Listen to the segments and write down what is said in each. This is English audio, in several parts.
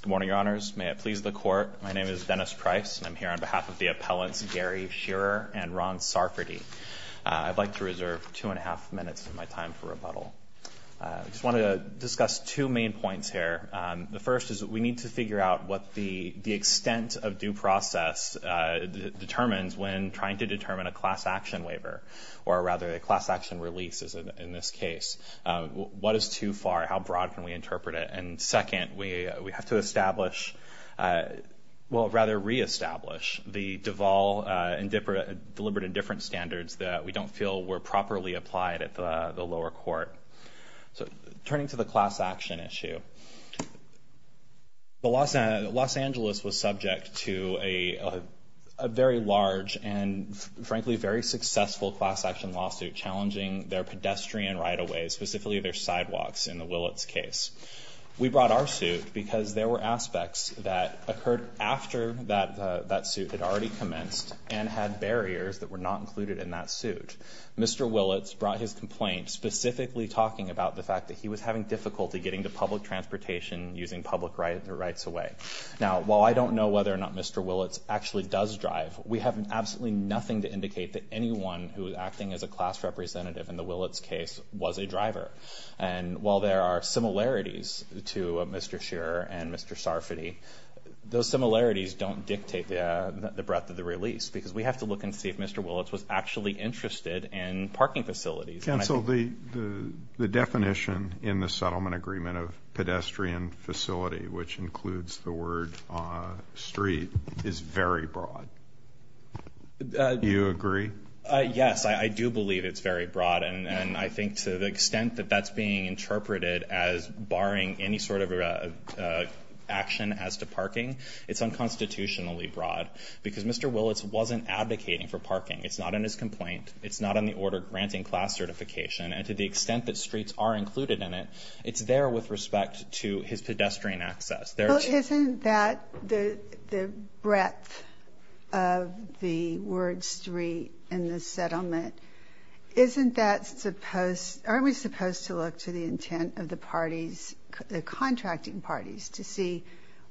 Good morning, Your Honors. May it please the Court, my name is Dennis Price, and I'm here on behalf of the appellants Gary Shearer and Ron Sarfaty. I'd like to reserve two and a half minutes of my time for rebuttal. I just want to discuss two main points here. The first is that we need to figure out what the extent of due process determines when trying to determine a class action waiver, or rather a class action release is in this case. What is too far? How broad can we interpret it? And second, we have to establish, well, rather reestablish the Deval and Dipper, deliberate and different standards that we don't feel were properly applied at the lower court. So turning to the class action issue, Los Angeles was subject to a very large and frankly very successful class action lawsuit challenging their pedestrian right of way, specifically their sidewalks in the Willits case. We brought our suit because there were aspects that occurred after that suit had already commenced and had barriers that were not included in that suit. Mr. Willits brought his complaint specifically talking about the fact that he was having difficulty getting to public transportation using public rights of way. Now, while I don't know whether or not Mr. Willits actually does drive, we have absolutely nothing to indicate that anyone who is acting as a class representative in the Willits case was a driver. And while there are similarities to Mr. Shearer and Mr. Sarfati, those similarities don't dictate the breadth of the release because we have to look and see if Mr. Willits was actually interested in parking facilities. Counsel, the definition in the settlement agreement of pedestrian facility, which includes the word street, is very broad. Do you agree? Yes, I do believe it's very broad. And I think to the extent that that's being interpreted as barring any sort of action as to parking, it's unconstitutionally broad. Because Mr. Willits wasn't advocating for parking. It's not in his complaint. It's not in the order granting class certification. And to the extent that streets are included in it, it's there with respect to his pedestrian access. Isn't that the breadth of the word street in the settlement? Isn't that supposed to look to the intent of the parties, the contracting parties, to see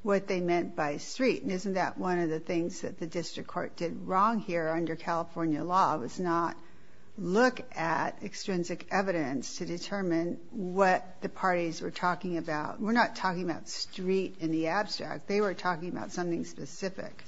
what they meant by street? And isn't that one of the things that the district court did wrong here under California law was not look at extrinsic evidence to determine what the parties were talking about? We're not talking about street in the abstract. They were talking about something specific.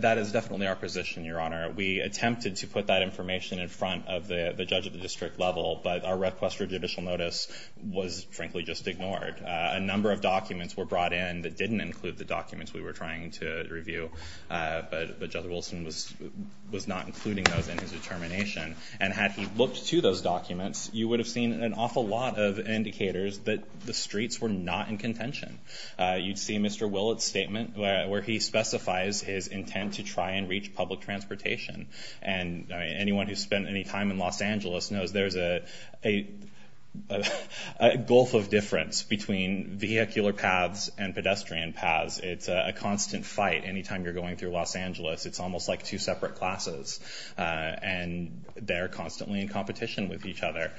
That is definitely our position, Your Honor. We attempted to put that information in front of the judge at the district level, but our request for judicial notice was, frankly, just ignored. A number of documents were brought in that didn't include the documents we were trying to review, but Judge Wilson was not including those in his determination. And had he looked to those documents, you would have seen an awful lot of indicators that the streets were not in contention. You'd see Mr. Willett's statement where he specifies his intent to try and reach public transportation. And anyone who's spent any time in Los Angeles knows there's a gulf of difference between vehicular paths and pedestrian paths. It's a constant fight any time you're going through Los Angeles. It's almost like two separate classes. And they're constantly in competition with each other.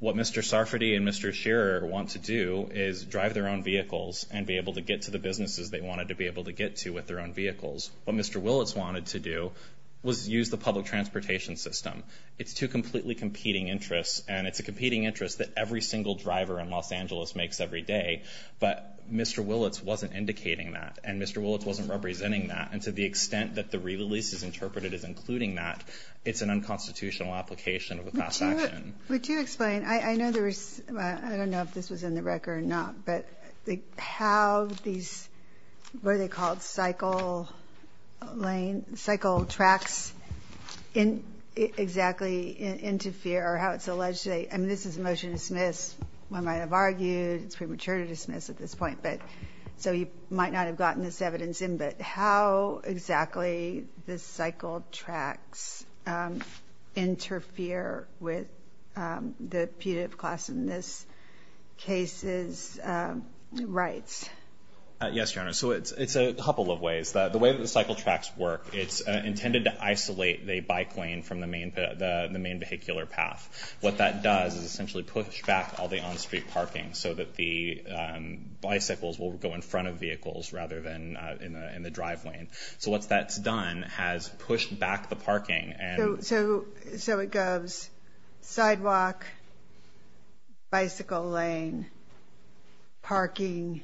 What Mr. Sarfati and Mr. Shearer want to do is drive their own vehicles and be able to get to the businesses they wanted to be able to get to with their own vehicles. What Mr. Willett's wanted to do was use the public transportation system. It's two completely competing interests, and it's a competing interest that every single driver in Los Angeles makes every day. But Mr. Willett's wasn't indicating that, and Mr. Willett's wasn't representing that. And to the extent that the re-release is interpreted as including that, it's an unconstitutional application of a class action. Would you explain? I know there was – I don't know if this was in the record or not, but how these – what are they called? Cycle lane – cycle tracks exactly interfere, or how it's alleged they – I mean, this is a motion to dismiss. One might have argued it's premature to dismiss at this point, but – so you might not have gotten this evidence in. But how exactly the cycle tracks interfere with the punitive class in this case's rights? Yes, Your Honor. So it's a couple of ways. The way that the cycle tracks work, it's intended to isolate the bike lane from the main vehicular path. What that does is essentially push back all the on-street parking so that the bicycles will go in front of vehicles rather than in the driveway. So once that's done, it has pushed back the parking and – So it goes sidewalk, bicycle lane, parking,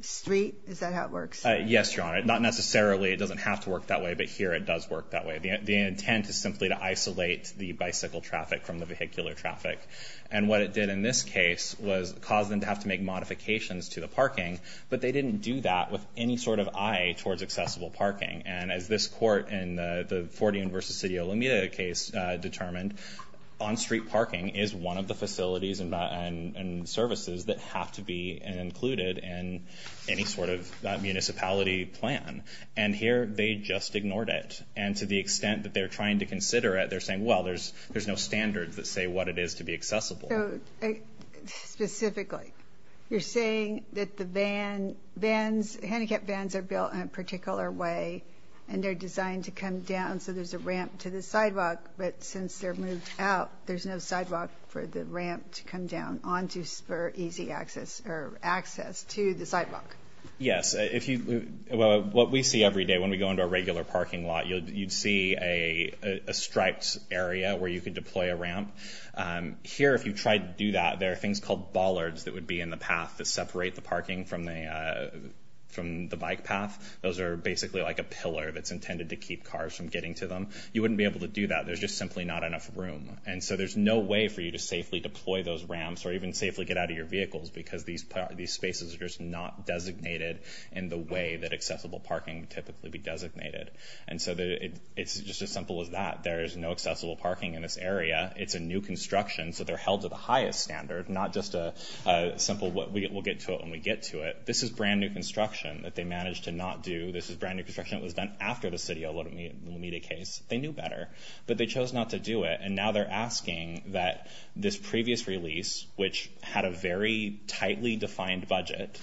street? Is that how it works? Yes, Your Honor. Not necessarily. It doesn't have to work that way, but here it does work that way. The intent is simply to isolate the bicycle traffic from the vehicular traffic. And what it did in this case was cause them to have to make modifications to the parking, but they didn't do that with any sort of eye towards accessible parking. And as this court in the Fort Union v. City of Alameda case determined, on-street parking is one of the facilities and services that have to be included in any sort of municipality plan. And here they just ignored it. And to the extent that they're trying to consider it, they're saying, well, there's no standards that say what it is to be accessible. So specifically, you're saying that the vans – handicapped vans are built in a particular way and they're designed to come down so there's a ramp to the sidewalk, but since they're moved out, there's no sidewalk for the ramp to come down onto spur easy access or access to the sidewalk. Yes. If you – what we see every day when we go into a regular parking lot, you'd see a striped area where you could deploy a ramp. Here, if you tried to do that, there are things called bollards that would be in the path that separate the parking from the bike path. Those are basically like a pillar that's intended to keep cars from getting to them. You wouldn't be able to do that. There's just simply not enough room. And so there's no way for you to safely deploy those ramps or even safely get out of your vehicles because these spaces are just not designated in the way that accessible parking would typically be designated. And so it's just as simple as that. There is no accessible parking in this area. It's a new construction, so they're held to the highest standard, not just a simple we'll get to it when we get to it. This is brand-new construction that they managed to not do. This is brand-new construction that was done after the city of Alameda case. They knew better, but they chose not to do it. And now they're asking that this previous release, which had a very tightly defined budget,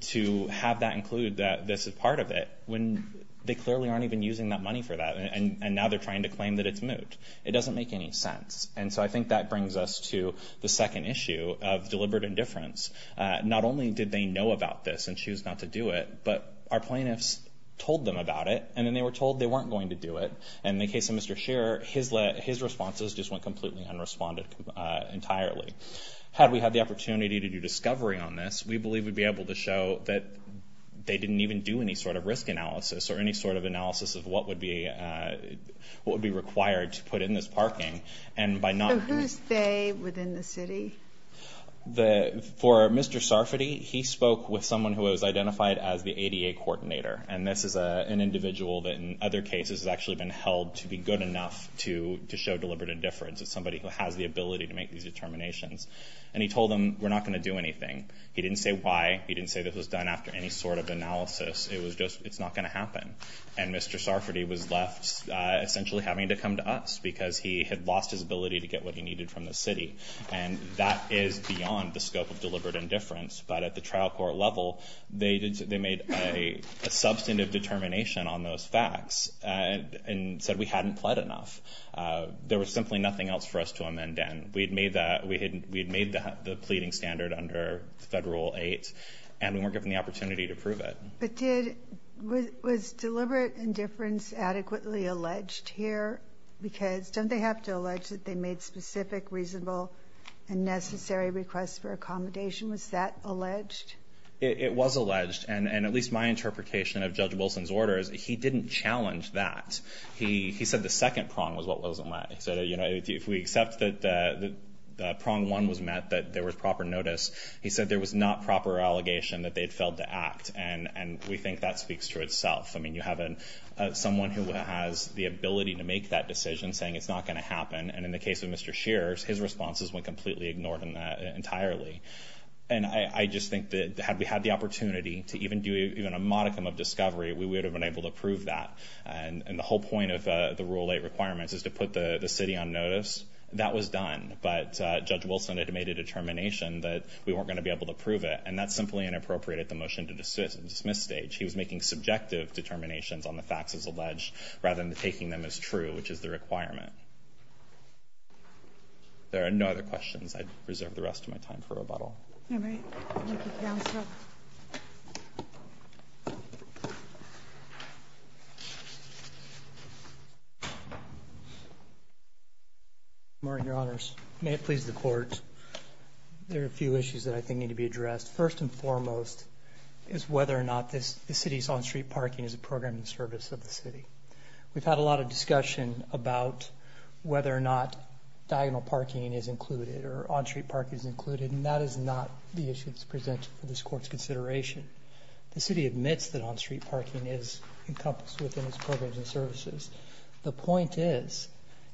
to have that include that this is part of it when they clearly aren't even using that money for that. And now they're trying to claim that it's moot. It doesn't make any sense. And so I think that brings us to the second issue of deliberate indifference. Not only did they know about this and choose not to do it, but our plaintiffs told them about it, and then they were told they weren't going to do it. And in the case of Mr. Scherer, his responses just went completely unresponded entirely. Had we had the opportunity to do discovery on this, we believe we'd be able to show that they didn't even do any sort of risk analysis or any sort of analysis of what would be required to put in this parking. So who's they within the city? For Mr. Sarfati, he spoke with someone who was identified as the ADA coordinator. And this is an individual that in other cases has actually been held to be good enough to show deliberate indifference. It's somebody who has the ability to make these determinations. And he told them, we're not going to do anything. He didn't say why. He didn't say this was done after any sort of analysis. It was just, it's not going to happen. And Mr. Sarfati was left essentially having to come to us because he had lost his ability to get what he needed from the city. And that is beyond the scope of deliberate indifference. But at the trial court level, they made a substantive determination on those facts and said we hadn't pled enough. There was simply nothing else for us to amend then. We had made the pleading standard under Federal Rule 8, and we weren't given the opportunity to prove it. But did, was deliberate indifference adequately alleged here? Because don't they have to allege that they made specific, reasonable, and necessary requests for accommodation? Was that alleged? It was alleged. And at least my interpretation of Judge Wilson's order is he didn't challenge that. He said the second prong was what wasn't met. He said, you know, if we accept that the prong one was met, that there was proper notice, he said there was not proper allegation that they had failed to act. And we think that speaks to itself. I mean, you have someone who has the ability to make that decision saying it's not going to happen, and in the case of Mr. Shears, his responses went completely ignored in that entirely. And I just think that had we had the opportunity to even do even a modicum of discovery, we would have been able to prove that. And the whole point of the Rule 8 requirements is to put the city on notice. That was done. But Judge Wilson had made a determination that we weren't going to be able to prove it, and that simply inappropriated the motion to dismiss stage. He was making subjective determinations on the facts as alleged rather than taking them as true, which is the requirement. There are no other questions. I reserve the rest of my time for rebuttal. Kagan. Martin, Your Honors. May it please the Court, there are a few issues that I think need to be addressed. First and foremost is whether or not the city's on-street parking is a program and service of the city. We've had a lot of discussion about whether or not diagonal parking is included or on-street parking is included, and that is not the issue that's presented for this Court's consideration. The city admits that on-street parking is encompassed within its programs and services. The point is,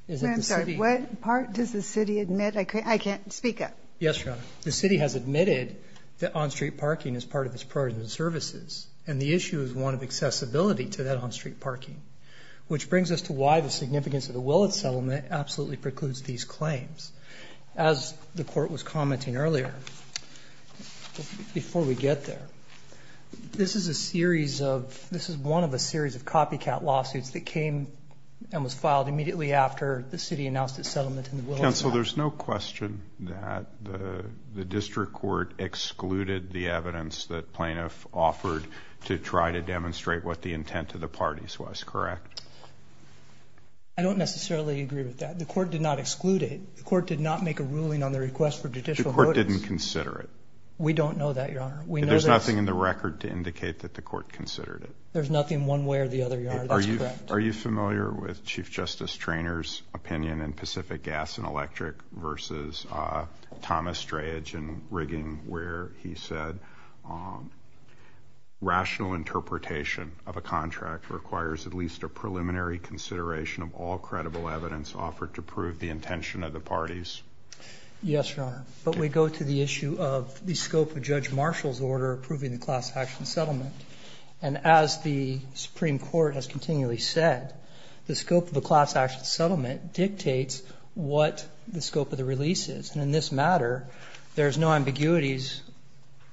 is that the city What part does the city admit? I can't speak up. Yes, Your Honor. The city has admitted that on-street parking is part of its programs and services, and the issue is one of accessibility to that on-street parking, which brings us to why the significance of the Willet settlement absolutely precludes these claims. As the Court was commenting earlier, before we get there, this is a series of one of a series of copycat lawsuits that came and was filed immediately after the city announced its settlement in the Willet Act. Counsel, there's no question that the district court excluded the evidence that plaintiff offered to try to demonstrate what the intent of the parties was, correct? I don't necessarily agree with that. The court did not exclude it. The court did not make a ruling on the request for judicial notice. The court didn't consider it. We don't know that, Your Honor. There's nothing in the record to indicate that the court considered it. There's nothing one way or the other, Your Honor. That's correct. Are you familiar with Chief Justice Traynor's opinion in Pacific Gas and Electric v. Thomas Strayedge in Rigging where he said rational interpretation of a contract requires at least a preliminary consideration of all credible evidence offered to prove the intention of the parties? Yes, Your Honor. But we go to the issue of the scope of Judge Marshall's order approving the class action settlement. And as the Supreme Court has continually said, the scope of the class action settlement dictates what the scope of the release is. And in this matter, there's no ambiguities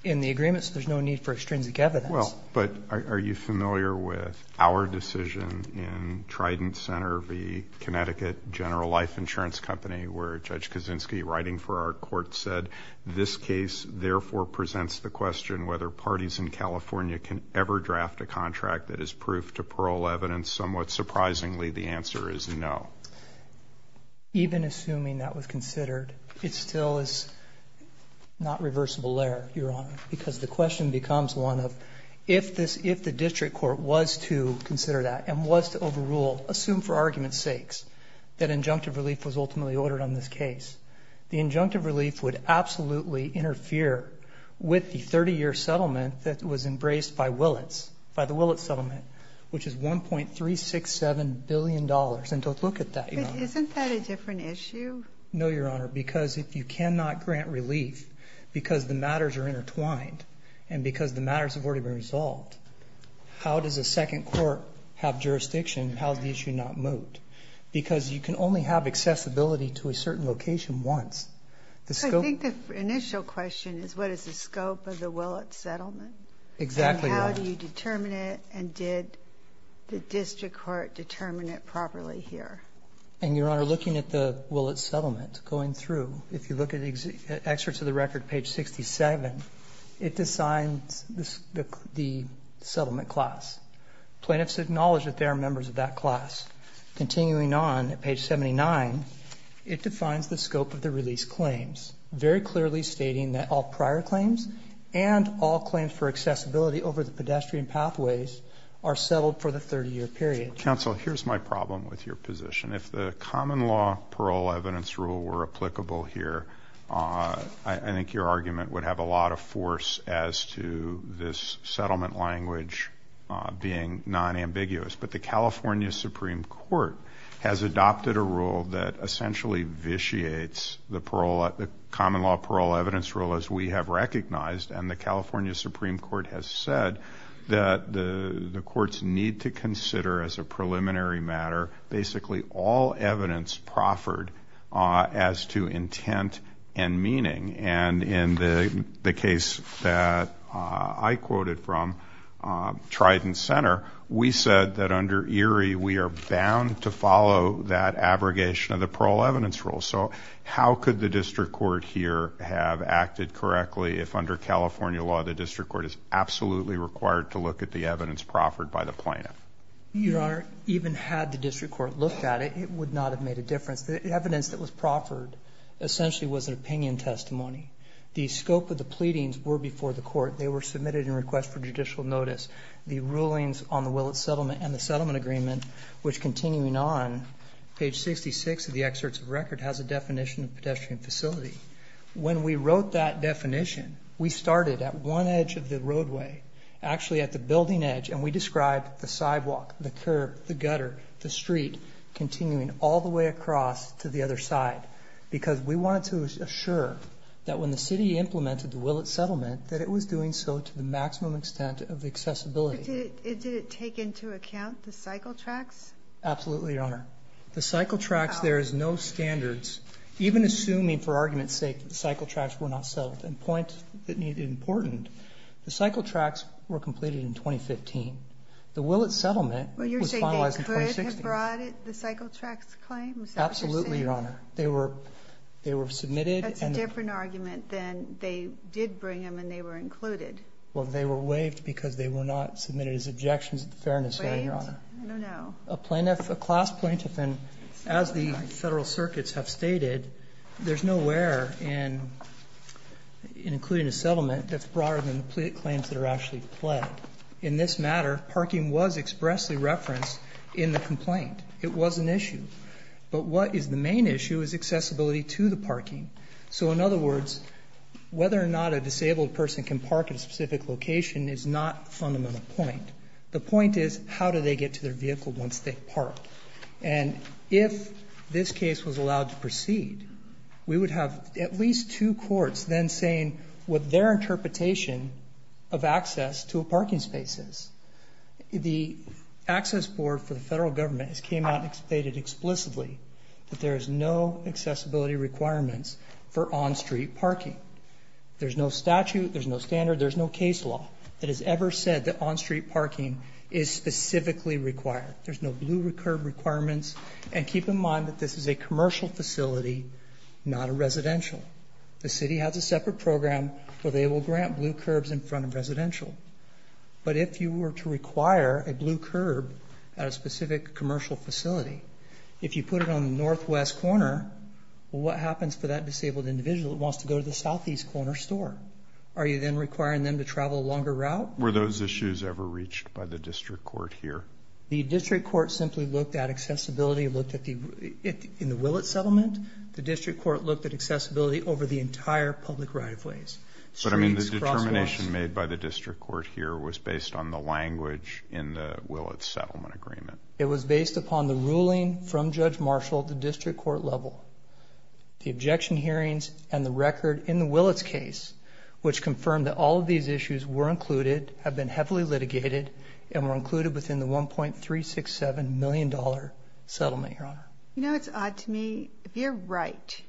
in the agreement, so there's no need for extrinsic evidence. Well, but are you familiar with our decision in Trident Center v. Connecticut General Life Insurance Company where Judge Kaczynski, writing for our court, said this case therefore presents the question whether parties in California can ever draft a contract that is proof to parole evidence? Somewhat surprisingly, the answer is no. Even assuming that was considered, it still is not reversible there, Your Honor, because the question becomes one of if the district court was to consider that and was to overrule, assume for argument's sakes, that injunctive relief was ultimately to be ordered on this case, the injunctive relief would absolutely interfere with the 30-year settlement that was embraced by Willits, by the Willits settlement, which is $1.367 billion. And don't look at that, Your Honor. But isn't that a different issue? No, Your Honor, because if you cannot grant relief because the matters are intertwined and because the matters have already been resolved, how does a second court have jurisdiction? How does the issue not moot? Because you can only have accessibility to a certain location once. The scope of the Willits settlement. Exactly, Your Honor. And how do you determine it? And did the district court determine it properly here? And, Your Honor, looking at the Willits settlement, going through, if you look at the excerpts of the record, page 67, it assigns the settlement class. Plaintiffs acknowledge that they are members of that class. Continuing on at page 79, it defines the scope of the release claims, very clearly stating that all prior claims and all claims for accessibility over the pedestrian pathways are settled for the 30-year period. Counsel, here's my problem with your position. If the common law parole evidence rule were applicable here, I think your argument would have a lot of force as to this settlement language being non-ambiguous. But the California Supreme Court has adopted a rule that essentially vitiates the common law parole evidence rule as we have recognized, and the California Supreme Court has said that the courts need to consider as a preliminary matter basically all evidence proffered as to intent and meaning. And in the case that I quoted from Trident Center, we said that under Erie, we are bound to follow that abrogation of the parole evidence rule. So how could the district court here have acted correctly if under California law the district court is absolutely required to look at the evidence proffered by the plaintiff? Your Honor, even had the district court looked at it, it would not have made a difference. The evidence that was proffered essentially was an opinion testimony. The scope of the pleadings were before the court. They were submitted in request for judicial notice. The rulings on the Willett settlement and the settlement agreement, which continuing on, page 66 of the excerpts of record, has a definition of pedestrian facility. When we wrote that definition, we started at one edge of the roadway, actually at the building edge, and we described the sidewalk, the curb, the gutter, the street continuing all the way across to the other side. Because we wanted to assure that when the city implemented the Willett settlement that it was doing so to the maximum extent of accessibility. But did it take into account the cycle tracks? Absolutely, Your Honor. The cycle tracks, there is no standards. Even assuming, for argument's sake, that the cycle tracks were not settled. And point that needed important, the cycle tracks were completed in 2015. The Willett settlement was finalized in 2016. Were they brought at the cycle tracks claim? Is that what you're saying? Absolutely, Your Honor. They were submitted. That's a different argument than they did bring them and they were included. Well, they were waived because they were not submitted as objections to the fairness hearing, Your Honor. Waived? I don't know. A plaintiff, a class plaintiff, as the Federal circuits have stated, there's nowhere in including a settlement that's broader than the claims that are actually pledged. In this matter, parking was expressly referenced in the complaint. It was an issue. But what is the main issue is accessibility to the parking. So, in other words, whether or not a disabled person can park at a specific location is not the fundamental point. The point is, how do they get to their vehicle once they park? And if this case was allowed to proceed, we would have at least two courts then saying what their interpretation of access to a parking space is. The Access Board for the Federal Government has came out and stated explicitly that there is no accessibility requirements for on-street parking. There's no statute. There's no standard. There's no case law that has ever said that on-street parking is specifically required. There's no blue curb requirements. And keep in mind that this is a commercial facility, not a residential. The city has a separate program where they will grant blue curbs in front of residential. But if you were to require a blue curb at a specific commercial facility, if you put it on the northwest corner, well, what happens for that disabled individual that wants to go to the southeast corner store? Are you then requiring them to travel a longer route? Were those issues ever reached by the district court here? The district court simply looked at accessibility. In the Willett settlement, the district court looked at accessibility over the entire public right of ways. But I mean the determination made by the district court here was based on the language in the Willett settlement agreement. It was based upon the ruling from Judge Marshall at the district court level, the objection hearings, and the record in the Willett's case, which confirmed that all of these issues were included, have been heavily litigated, and were included within the $1.367 million settlement, Your Honor. You know, it's odd to me, if you're right,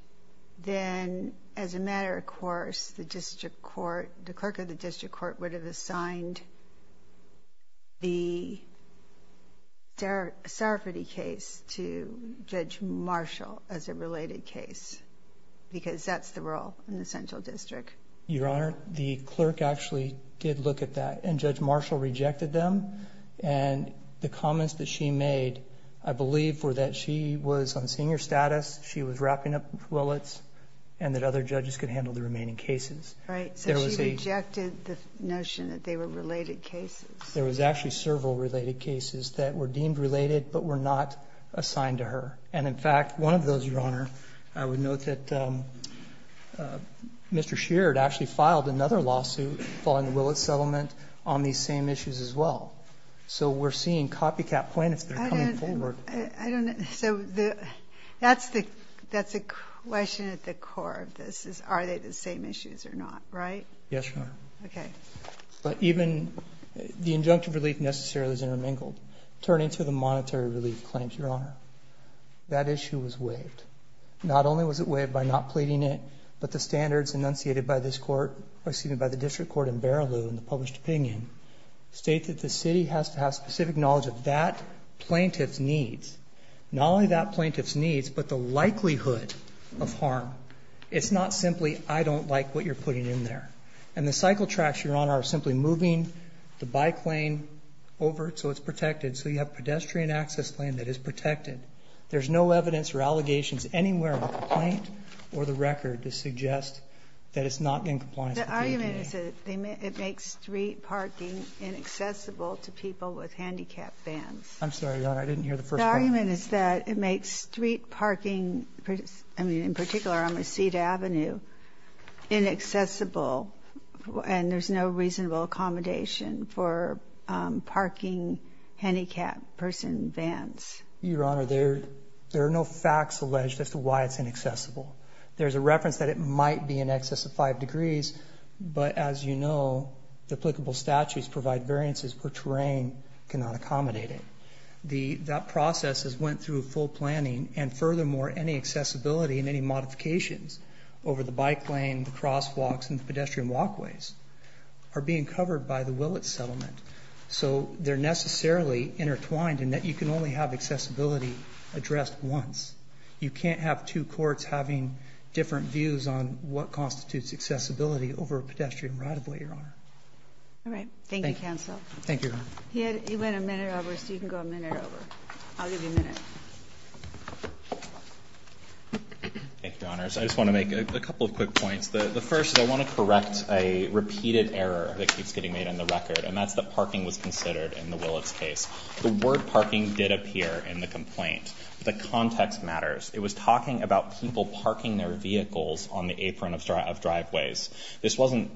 then as a matter of course, the district court, the clerk of the district court would have assigned the Sarafati case to Judge Marshall as a related case, because that's the role in the central district. Your Honor, the clerk actually did look at that, and Judge Marshall rejected them. And the comments that she made, I believe, were that she was on senior status, she was wrapping up Willett's, and that other judges could handle the remaining cases. Right. So she rejected the notion that they were related cases. There was actually several related cases that were deemed related, but were not assigned to her. And in fact, one of those, Your Honor, I would note that Mr. Scheer had actually filed another lawsuit following the Willett settlement on these same issues as well. So we're seeing copycat plaintiffs that are coming forward. I don't know. So that's the question at the core of this, is are they the same issues or not. Right? Yes, Your Honor. Okay. But even the injunctive relief necessarily is intermingled. Turning to the monetary relief claims, Your Honor, that issue was waived. Not only was it waived by not pleading it, but the standards enunciated by this Court, or excuse me, by the district court in Barilou in the published opinion, state that the city has to have specific knowledge of that plaintiff's needs. Not only that plaintiff's needs, but the likelihood of harm. It's not simply I don't like what you're putting in there. And the cycle tracks, Your Honor, are simply moving the bike lane over so it's protected. So you have pedestrian access lane that is protected. There's no evidence or allegations anywhere in the complaint or the record to suggest that it's not in compliance with the EPA. The argument is that it makes street parking inaccessible to people with handicapped vans. I'm sorry, Your Honor. I didn't hear the first part. The argument is that it makes street parking, I mean, in particular on Reseda Avenue, inaccessible and there's no reasonable accommodation for parking handicapped person vans. Your Honor, there are no facts alleged as to why it's inaccessible. There's a reference that it might be in excess of five degrees. But as you know, the applicable statutes provide variances for terrain cannot accommodate it. That process has went through full planning. And furthermore, any accessibility and any modifications over the bike lane, the crosswalks and the pedestrian walkways are being covered by the Willits settlement. So they're necessarily intertwined in that you can only have accessibility addressed once. You can't have two courts having different views on what constitutes accessibility over a pedestrian right-of-way, Your Honor. All right. Thank you, counsel. Thank you, Your Honor. He went a minute over, so you can go a minute over. I'll give you a minute. Thank you, Your Honors. I just want to make a couple of quick points. The first is I want to correct a repeated error that keeps getting made on the record, and that's that parking was considered in the Willits case. The word parking did appear in the complaint. The context matters. It was talking about people parking their vehicles on the apron of driveways. This wasn't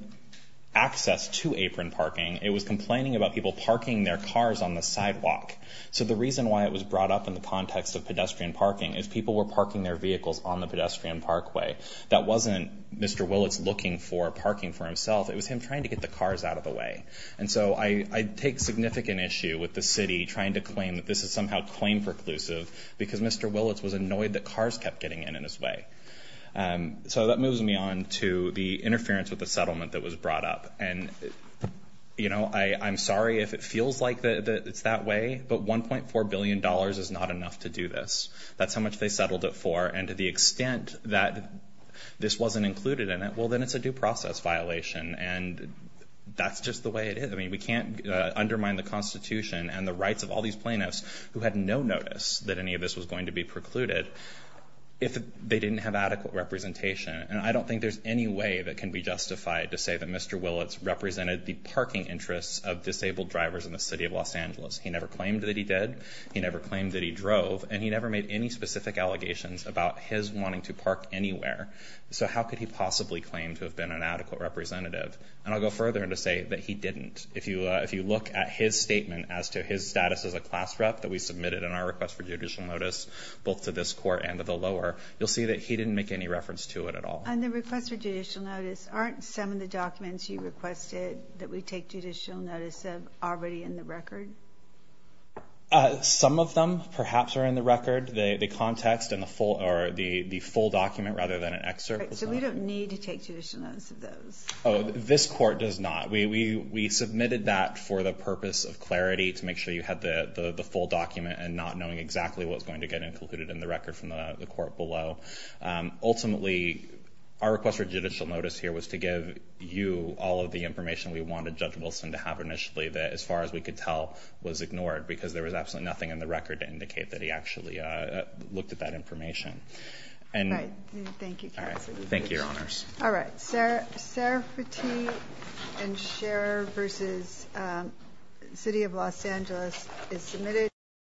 access to apron parking. It was complaining about people parking their cars on the sidewalk. So the reason why it was brought up in the context of pedestrian parking is people were parking their vehicles on the pedestrian parkway. That wasn't Mr. Willits looking for parking for himself. It was him trying to get the cars out of the way. And so I take significant issue with the city trying to claim that this is somehow claim preclusive because Mr. Willits was annoyed that cars kept getting in his way. So that moves me on to the interference with the settlement that was brought up. And, you know, I'm sorry if it feels like it's that way, but $1.4 billion is not enough to do this. That's how much they settled it for. And to the extent that this wasn't included in it, well, then it's a due process violation. And that's just the way it is. I mean, we can't undermine the Constitution and the rights of all these plaintiffs who had no notice that any of this was going to be precluded if they didn't have adequate representation. And I don't think there's any way that can be justified to say that Mr. Willits represented the parking interests of disabled drivers in the city of Los Angeles. He never claimed that he did. He never claimed that he drove. And he never made any specific allegations about his wanting to park anywhere. So how could he possibly claim to have been an adequate representative? And I'll go further and just say that he didn't. If you look at his statement as to his status as a class rep that we submitted in our request for judicial notice both to this court and to the lower, you'll see that he didn't make any reference to it at all. And the request for judicial notice, aren't some of the documents you requested that we take judicial notice of already in the record? Some of them perhaps are in the record. The context and the full document rather than an excerpt. So we don't need to take judicial notice of those? This court does not. We submitted that for the purpose of clarity to make sure you had the full document and not knowing exactly what was going to get included in the record from the court below. Ultimately, our request for judicial notice here was to give you all of the information we wanted Judge Wilson to have initially that as far as we could tell was ignored looked at that information. Thank you, Counsel. Thank you, Your Honors. All right. Sarafati and Scherer v. City of Los Angeles is submitted.